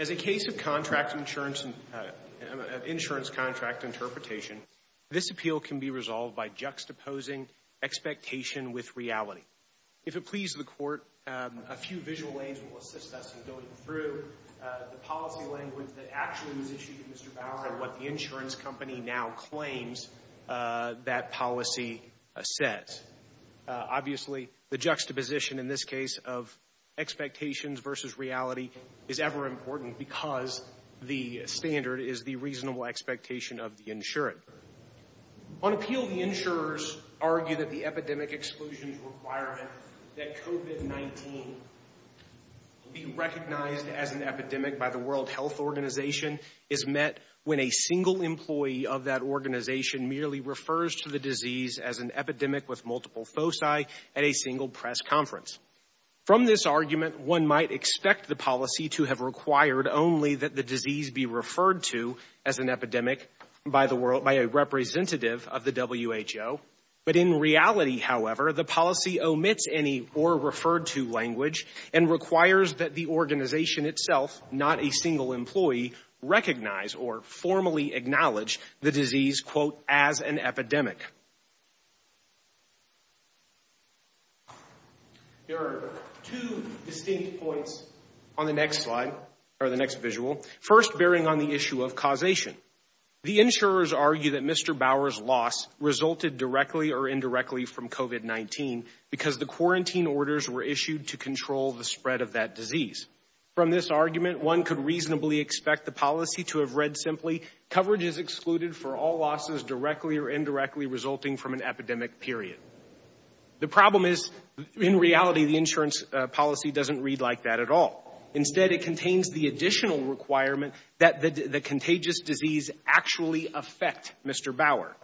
As a case of insurance contract interpretation, this appeal can be resolved by juxtaposing expectation with reality. If it pleases the court, a few visual aids will assist us in going through the policy language that actually was issued to Mr. Bauer and what the insurance company now claims that policy says. Obviously, the juxtaposition in this case of expectations versus reality is ever important because the standard is the reasonable expectation of the insurant. On appeal, the insurers argue that the epidemic exclusions requirement that COVID-19 be recognized as an epidemic by the World Health Organization is met when a single employee of that organization merely refers to the disease as an epidemic with multiple foci at a single press conference. From this argument, one might expect the policy to have required only that the disease be referred to as an epidemic by a representative of the WHO. But in reality, however, the policy omits any or referred to language and requires that the organization itself, not a single employee, recognize or formally acknowledge the disease, quote, as an epidemic. There are two distinct points on the next slide or the next visual. First, bearing on the issue of causation, the insurers argue that Mr. Bauer's loss resulted directly or indirectly from COVID-19 because the quarantine orders were issued to control the spread of that disease. From this argument, one could reasonably expect the policy to have read simply, coverage is excluded for all losses directly or indirectly resulting from an epidemic period. The problem is, in reality, the insurance policy doesn't read like that at all. Instead, it contains the additional requirement that the contagious disease actually affect Mr. Bauer.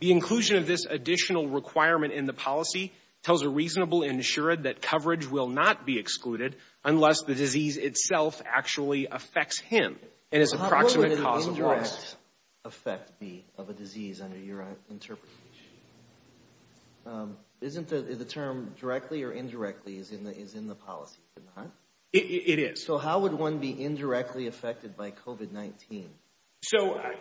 The inclusion of this additional requirement in the policy tells a reasonable insurer that coverage will not be excluded unless the disease itself actually affects him and his approximate cause of loss. How would an indirect effect be of a disease under your interpretation? Isn't the term directly or indirectly is in the policy, is it not? It is. So how would one be indirectly affected by COVID-19? So I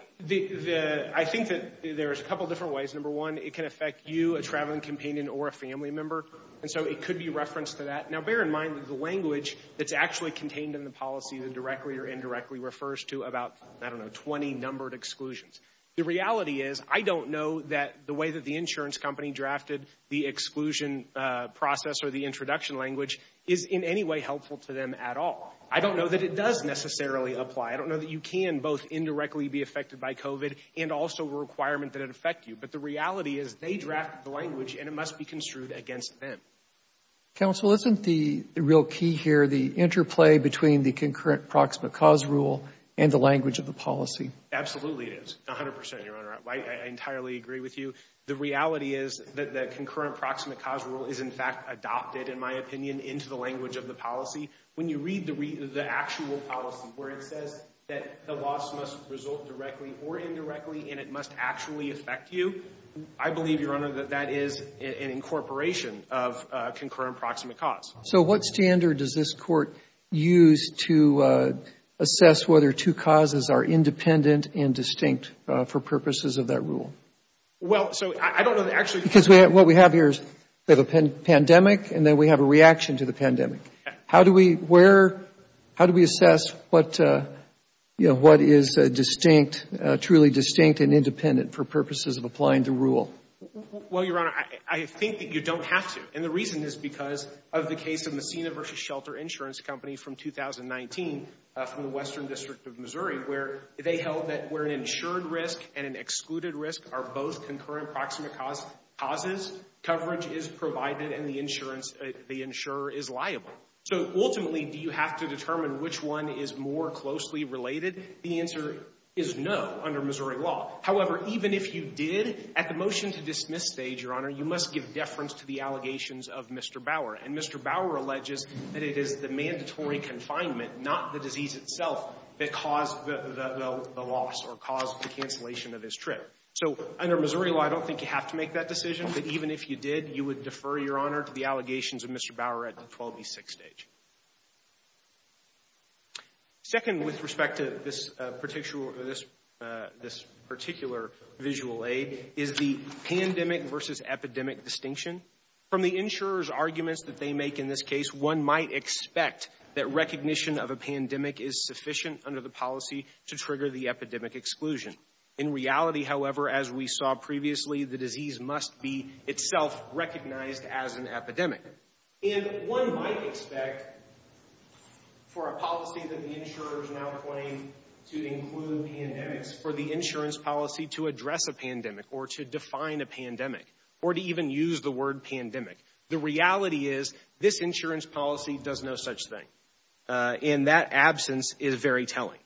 think that there's a couple of different ways. Number one, it can affect you, a traveling companion or a family member. And so it could be referenced to that. Now, bear in mind that the language that's actually contained in the policy is indirectly or indirectly refers to about, I don't know, 20 numbered exclusions. The reality is, I don't know that the way that the insurance company drafted the exclusion process or the introduction language is in any way helpful to them at all. I don't know that it does necessarily apply. I don't know that you can both indirectly be affected by COVID and also a requirement that it affect you. But the reality is they drafted the language and it must be construed against them. Counsel, isn't the real key here the interplay between the concurrent proximate cause rule and the language of the policy? Absolutely, it is. A hundred percent, Your Honor. I entirely agree with you. The reality is that the concurrent proximate cause rule is in fact adopted, in my opinion, into the language of the policy. When you read the actual policy where it says that the loss must result directly or indirectly and it must actually affect you, I believe, Your Honor, that that is an incorporation of concurrent proximate cause. So what standard does this Court use to assess whether two causes are independent and distinct for purposes of that rule? Well, so I don't know the actual rule. Because what we have here is we have a pandemic and then we have a reaction to the pandemic. How do we assess what is distinct, truly distinct and independent for purposes of applying the rule? Well, Your Honor, I think that you don't have to. And the reason is because of the case of Messina v. Shelter Insurance Company from 2019 from the Western District of Missouri, where they held that where an insured risk and an excluded risk are both concurrent proximate causes, coverage is provided and the insurer is liable. So ultimately, do you have to determine which one is more closely related? The answer is no under Missouri law. However, even if you did, at the motion to dismiss stage, Your Honor, you must give deference to the allegations of Mr. Bauer. And Mr. Bauer alleges that it is the mandatory confinement, not the disease itself, that caused the loss or caused the cancellation of his trip. So under Missouri law, I don't think you have to make that decision. But even if you did, you would defer, Your Honor, to the allegations of Mr. Bauer at the 12B6 stage. Second, with respect to this particular visual aid, is the pandemic versus epidemic distinction. From the insurer's arguments that they make in this case, one might expect that recognition of a pandemic is sufficient under the policy to trigger the epidemic exclusion. In reality, however, as we saw previously, the disease must be itself recognized as an epidemic. And one might expect for a policy that the insurers now claim to include pandemics for the insurance policy to address a pandemic or to define a pandemic or to even use the word pandemic. The reality is this insurance policy does no such thing. And that absence is very telling.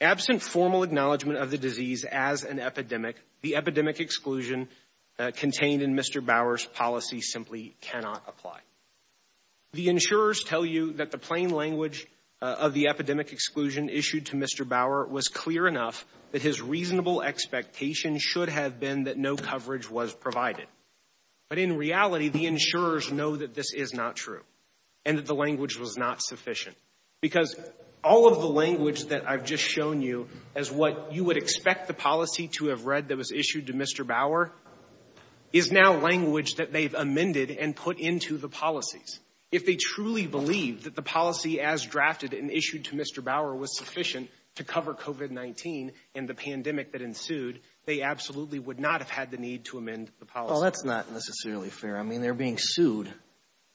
Absent formal acknowledgement of the disease as an epidemic, the epidemic exclusion contained in Mr. Bauer's policy simply cannot apply. The insurers tell you that the plain language of the epidemic exclusion issued to Mr. Bauer was clear enough that his reasonable expectation should have been that no coverage was provided. But in reality, the insurers know that this is not true and that the language was not sufficient. Because all of the language that I've just shown you as what you would expect the policy to have read that was issued to Mr. Bauer is now language that they've amended and put into the policies. If they truly believe that the policy as drafted and issued to Mr. Bauer was sufficient to cover COVID-19 and the pandemic that ensued, they absolutely would not have had the need to amend the policy. Well, that's not necessarily fair. I mean, they're being sued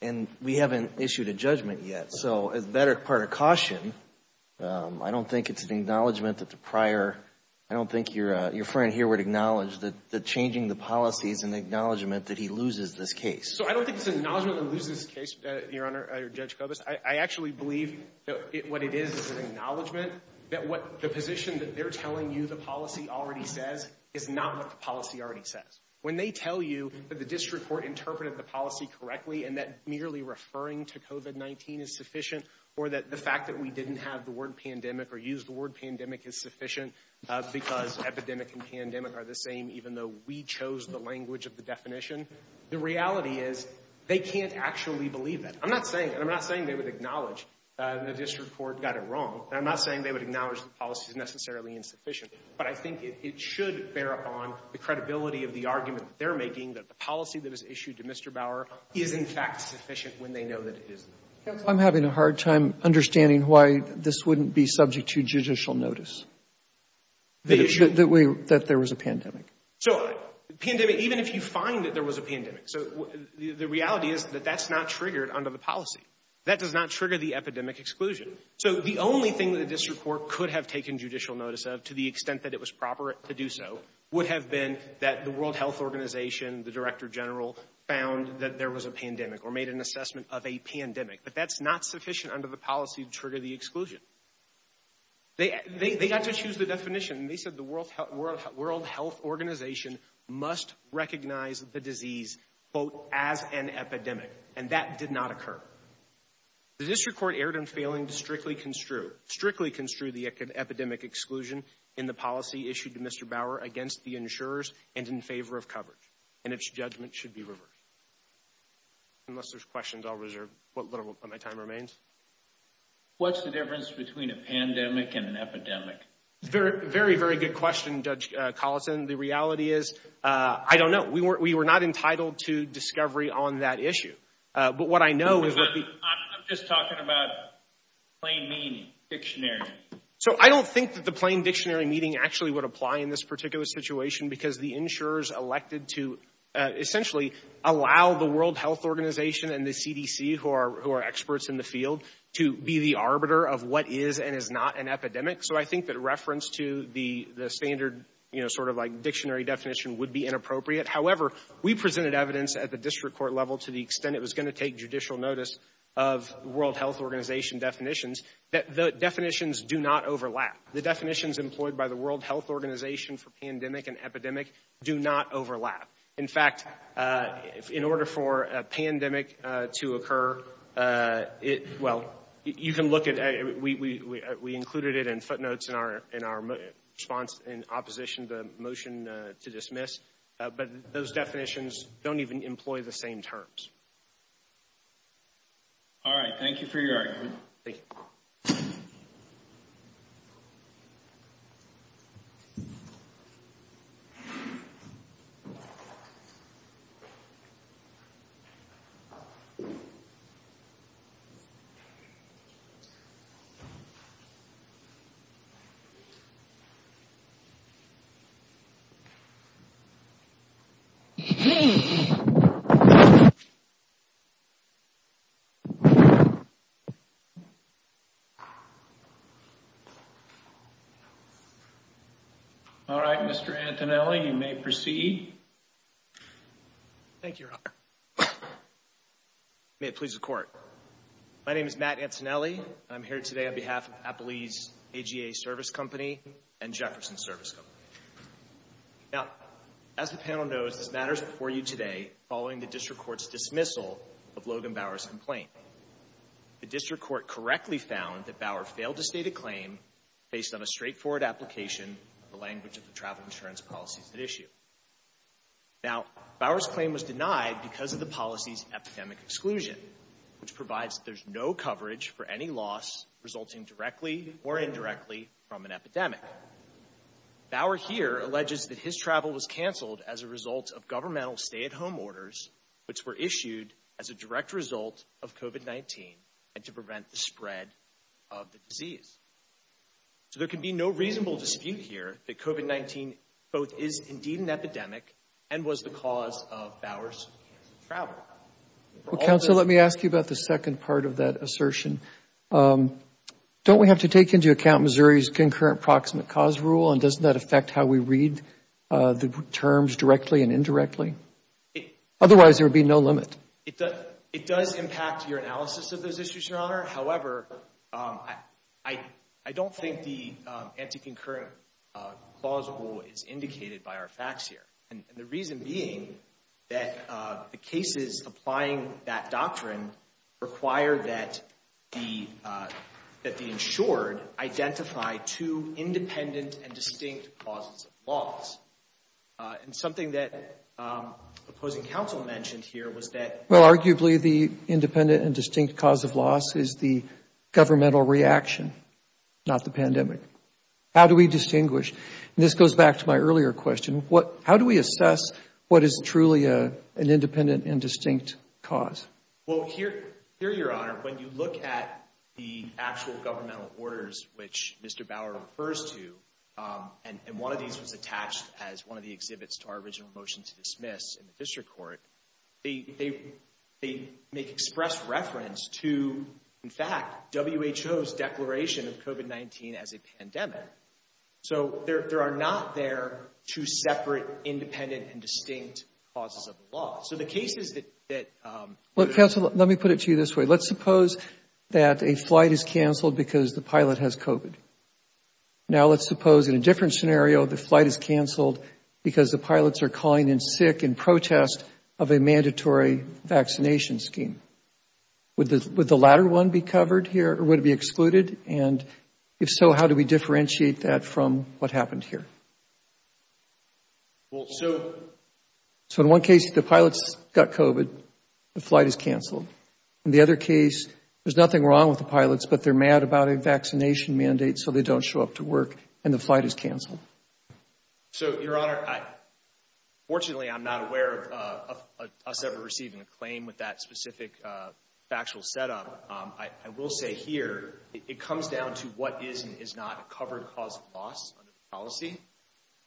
and we haven't issued a judgment yet. So as better part of caution, I don't think it's an acknowledgement that the prior. I don't think your your friend here would acknowledge that the changing the policy is an acknowledgement that he loses this case. So I don't think it's an acknowledgement that loses this case, Your Honor, Judge Kobus. I actually believe that what it is is an acknowledgement that what the position that they're telling you the policy already says is not what the policy already says. When they tell you that the district court interpreted the policy correctly and that merely referring to COVID-19 is sufficient or that the fact that we didn't have the word pandemic or use the word pandemic is sufficient because epidemic and pandemic are the same. Even though we chose the language of the definition, the reality is they can't actually believe it. I'm not saying I'm not saying they would acknowledge the district court got it wrong. I'm not saying they would acknowledge the policy is necessarily insufficient. But I think it should bear upon the credibility of the argument that they're making that the policy that is issued to Mr. Bauer is in fact sufficient when they know that it is. I'm having a hard time understanding why this wouldn't be subject to judicial notice. The issue that we that there was a pandemic. So the pandemic, even if you find that there was a pandemic. So the reality is that that's not triggered under the policy. That does not trigger the epidemic exclusion. So the only thing that the district court could have taken judicial notice of, to the extent that it was proper to do so, would have been that the World Health Organization, the director general, found that there was a pandemic or made an assessment of a pandemic. But that's not sufficient under the policy to trigger the exclusion. They got to choose the definition. They said the World Health Organization must recognize the disease both as an epidemic. And that did not occur. The district court erred in failing to strictly construe, strictly construe the epidemic exclusion in the policy issued to Mr. Bauer against the insurers and in favor of coverage. And its judgment should be reversed. Unless there's questions, I'll reserve what little of my time remains. What's the difference between a pandemic and an epidemic? Very, very, very good question, Judge Collison. The reality is, I don't know. We were not entitled to discovery on that issue. I'm just talking about plain meaning, dictionary. So I don't think that the plain dictionary meaning actually would apply in this particular situation because the insurers elected to essentially allow the World Health Organization and the CDC, who are experts in the field, to be the arbiter of what is and is not an epidemic. So I think that reference to the standard, you know, sort of like dictionary definition would be inappropriate. However, we presented evidence at the district court level to the extent it was going to take judicial notice of World Health Organization definitions that the definitions do not overlap. The definitions employed by the World Health Organization for pandemic and epidemic do not overlap. In fact, in order for a pandemic to occur, well, you can look at it. We included it in footnotes in our response in opposition to the motion to dismiss. But those definitions don't even employ the same terms. All right. Thank you for your argument. Thank you. All right, Mr. Antonelli, you may proceed. Thank you. May it please the court. My name is Matt Antonelli. I'm here today on behalf of Applebee's AGA Service Company and Jefferson Service Company. Now, as the panel knows, this matters before you today following the district court's dismissal of Logan Bauer's complaint. The district court correctly found that Bauer failed to state a claim based on a straightforward application of the language of the travel insurance policies at issue. Now, Bauer's claim was denied because of the policy's epidemic exclusion, which provides there's no coverage for any loss resulting directly or indirectly from an epidemic. Bauer here alleges that his travel was canceled as a result of governmental stay-at-home orders, which were issued as a direct result of COVID-19 and to prevent the spread of the disease. So there can be no reasonable dispute here that COVID-19 both is indeed an epidemic and was the cause of Bauer's travel. Well, counsel, let me ask you about the second part of that assertion. Don't we have to take into account Missouri's concurrent proximate cause rule and doesn't that affect how we read the terms directly and indirectly? Otherwise, there would be no limit. It does impact your analysis of those issues, Your Honor. However, I don't think the anti-concurrent clause rule is indicated by our facts here. And the reason being that the cases applying that doctrine require that the insured identify two independent and distinct causes of loss. And something that opposing counsel mentioned here was that. Well, arguably, the independent and distinct cause of loss is the governmental reaction, not the pandemic. How do we distinguish? And this goes back to my earlier question. How do we assess what is truly an independent and distinct cause? Well, here, Your Honor, when you look at the actual governmental orders, which Mr. Bauer refers to, and one of these was attached as one of the exhibits to our original motion to dismiss in the district court, they make express reference to, in fact, WHO's declaration of COVID-19 as a pandemic. So there are not there two separate independent and distinct causes of loss. So the cases that. Well, counsel, let me put it to you this way. Let's suppose that a flight is canceled because the pilot has COVID. Now let's suppose in a different scenario the flight is canceled because the pilots are calling in sick in protest of a mandatory vaccination scheme. Would the latter one be covered here or would it be excluded? And if so, how do we differentiate that from what happened here? Well, so. So in one case, the pilots got COVID, the flight is canceled. In the other case, there's nothing wrong with the pilots, but they're mad about a vaccination mandate so they don't show up to work and the flight is canceled. So, Your Honor, fortunately, I'm not aware of us ever receiving a claim with that specific factual setup. I will say here it comes down to what is and is not a covered cause of loss under the policy.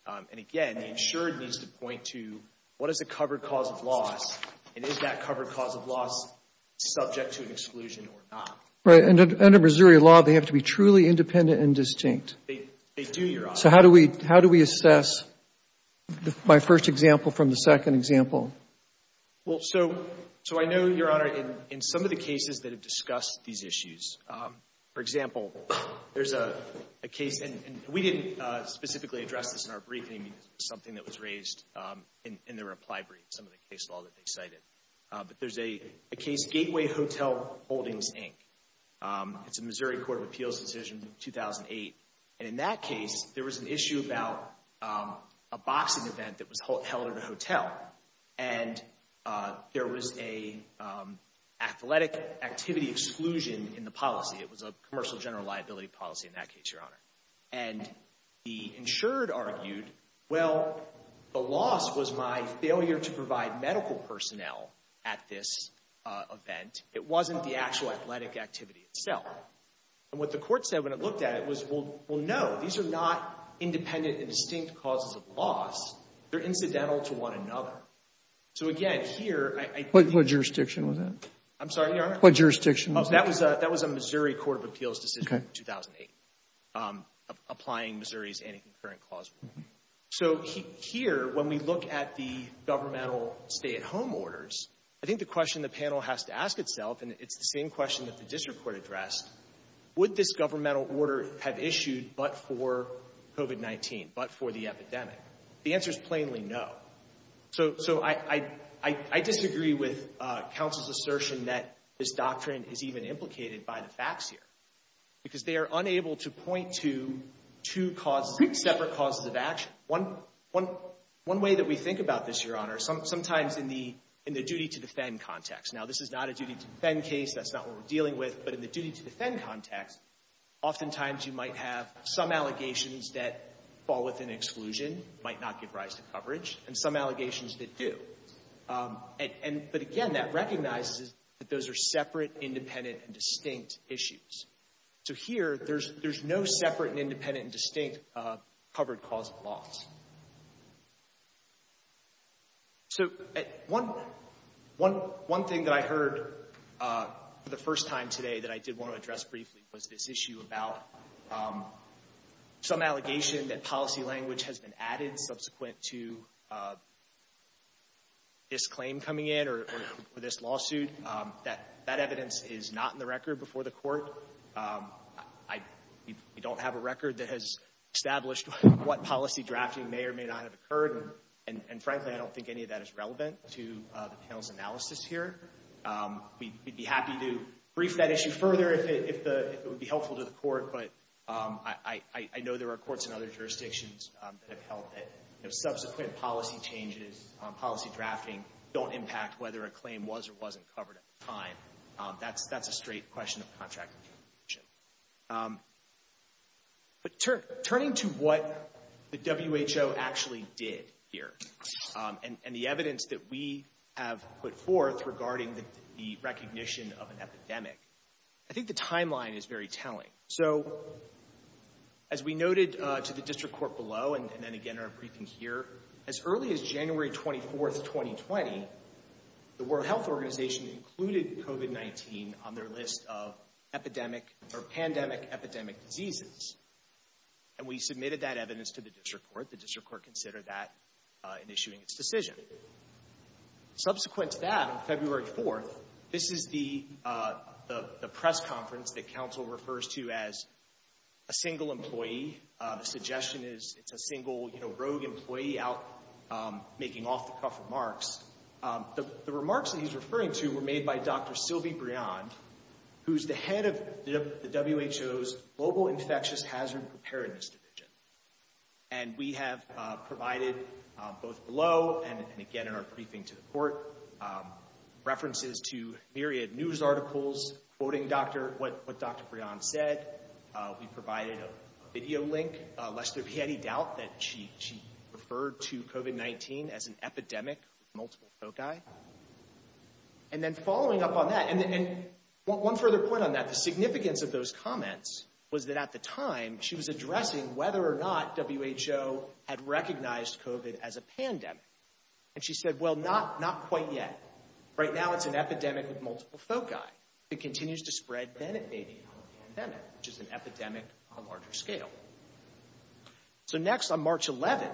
And again, the insured needs to point to what is a covered cause of loss and is that covered cause of loss subject to an exclusion or not. Under Missouri law, they have to be truly independent and distinct. They do, Your Honor. So how do we how do we assess my first example from the second example? Well, so. So I know, Your Honor, in some of the cases that have discussed these issues. For example, there's a case and we didn't specifically address this in our briefing, something that was raised in the reply brief, some of the case law that they cited. But there's a case, Gateway Hotel Holdings, Inc. It's a Missouri Court of Appeals decision in 2008. And in that case, there was an issue about a boxing event that was held at a hotel. And there was a athletic activity exclusion in the policy. It was a commercial general liability policy in that case, Your Honor. And the insured argued, well, the loss was my failure to provide medical personnel at this event. It wasn't the actual athletic activity itself. And what the court said when it looked at it was, well, no, these are not independent and distinct causes of loss. They're incidental to one another. So, again, here, I think. What jurisdiction was that? I'm sorry, Your Honor? What jurisdiction was that? That was a Missouri Court of Appeals decision in 2008, applying Missouri's anti-concurrent clause rule. So here, when we look at the governmental stay-at-home orders, I think the question the panel has to ask itself, and it's the same question that the district court addressed, would this governmental order have issued but for COVID-19, but for the epidemic? The answer is plainly no. So I disagree with counsel's assertion that this doctrine is even implicated by the facts here. Because they are unable to point to two separate causes of action. One way that we think about this, Your Honor, sometimes in the duty-to-defend context. Now, this is not a duty-to-defend case. That's not what we're dealing with. But in the duty-to-defend context, oftentimes you might have some allegations that fall within exclusion, might not give rise to coverage, and some allegations that do. But, again, that recognizes that those are separate, independent, and distinct issues. So here, there's no separate, independent, and distinct covered cause of loss. So one thing that I heard for the first time today that I did want to address briefly was this issue about some allegation that policy language has been added subsequent to this claim coming in or this lawsuit. That evidence is not in the record before the Court. We don't have a record that has established what policy drafting may or may not have occurred. And, frankly, I don't think any of that is relevant to the panel's analysis here. We'd be happy to brief that issue further if it would be helpful to the Court. But I know there are courts in other jurisdictions that have held that subsequent policy changes, policy drafting, don't impact whether a claim was or wasn't covered at the time. That's a straight question of contract. But turning to what the WHO actually did here and the evidence that we have put forth regarding the recognition of an epidemic, I think the timeline is very telling. So, as we noted to the District Court below and then again in our briefing here, as early as January 24, 2020, the World Health Organization included COVID-19 on their list of epidemic or pandemic epidemic diseases. And we submitted that evidence to the District Court. The District Court considered that in issuing its decision. Subsequent to that, on February 4, this is the press conference that Council refers to as a single employee. The suggestion is it's a single, you know, rogue employee out making off-the-cuff remarks. The remarks that he's referring to were made by Dr. Sylvie Briand, who's the head of the WHO's Global Infectious Hazard Preparedness Division. And we have provided, both below and again in our briefing to the Court, references to myriad news articles quoting what Dr. Briand said. We provided a video link, lest there be any doubt that she referred to COVID-19 as an epidemic with multiple foci. And then following up on that, and one further point on that, the significance of those comments was that at the time, she was addressing whether or not WHO had recognized COVID as a pandemic. And she said, well, not quite yet. Right now, it's an epidemic with multiple foci. It continues to spread, then it may be a pandemic, which is an epidemic on a larger scale. So next, on March 11,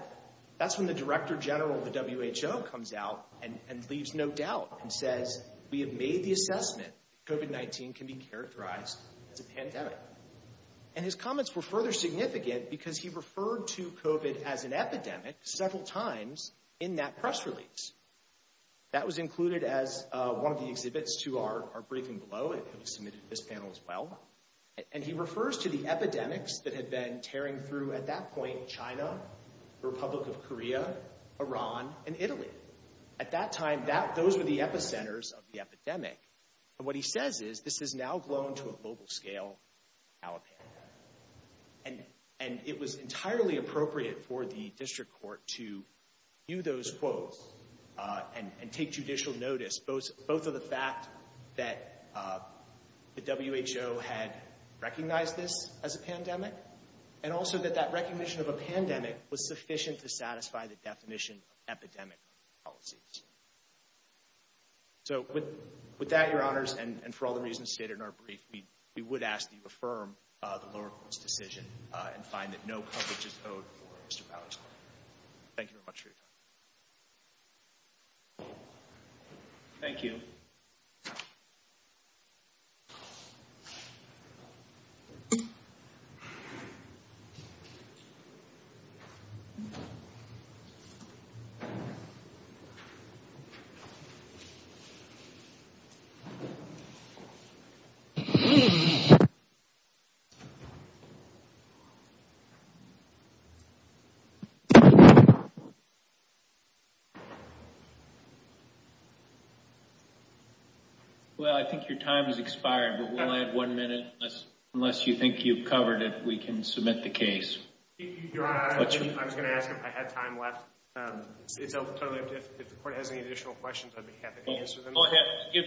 that's when the Director General of the WHO comes out and leaves no doubt and says, we have made the assessment that COVID-19 can be characterized as a pandemic. And his comments were further significant because he referred to COVID as an epidemic several times in that press release. That was included as one of the exhibits to our briefing below. It was submitted to this panel as well. And he refers to the epidemics that had been tearing through, at that point, China, the Republic of Korea, Iran, and Italy. At that time, those were the epicenters of the epidemic. And what he says is, this has now grown to a global scale, now a pandemic. And it was entirely appropriate for the district court to view those quotes and take judicial notice, both of the fact that the WHO had recognized this as a pandemic, and also that that recognition of a pandemic was sufficient to satisfy the definition of epidemic policies. So with that, Your Honors, and for all the reasons stated in our brief, we would ask that you affirm the lower court's decision and find that no coverage is owed for Mr. Bauer's claim. Thank you very much for your time. Thank you. Well, I think your time has expired, but we'll add one minute, unless you think you've covered it, we can submit the case. Your Honor, I was going to ask if I had time left. If the court has any additional questions, I'd be happy to answer them. We'll give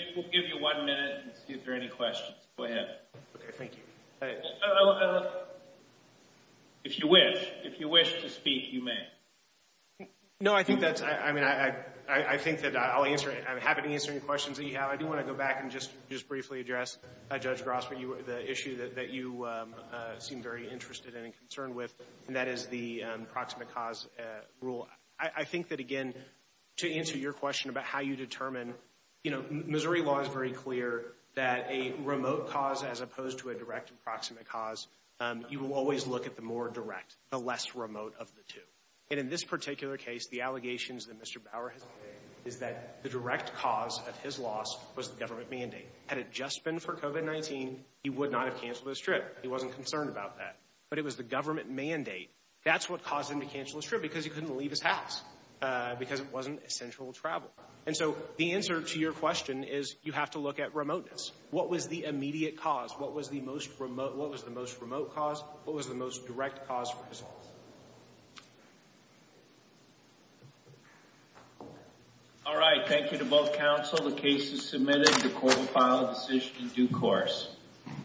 you one minute and see if there are any questions. Go ahead. Okay, thank you. If you wish, if you wish to speak, you may. No, I think that's, I mean, I think that I'll answer it. I'm happy to answer any questions that you have. I do want to go back and just briefly address, Judge Grossman, the issue that you seem very interested in and concerned with, and that is the proximate cause rule. I think that, again, to answer your question about how you determine, you know, Missouri law is very clear that a remote cause as opposed to a direct and proximate cause, you will always look at the more direct, the less remote of the two. And in this particular case, the allegations that Mr. Bauer has made is that the direct cause of his loss was the government mandate. Had it just been for COVID-19, he would not have canceled his trip. He wasn't concerned about that. But it was the government mandate. That's what caused him to cancel his trip, because he couldn't leave his house, because it wasn't essential travel. And so the answer to your question is you have to look at remoteness. What was the immediate cause? What was the most remote cause? What was the most direct cause for his loss? All right. Thank you to both counsel. The case is submitted. The court will file a decision in due course.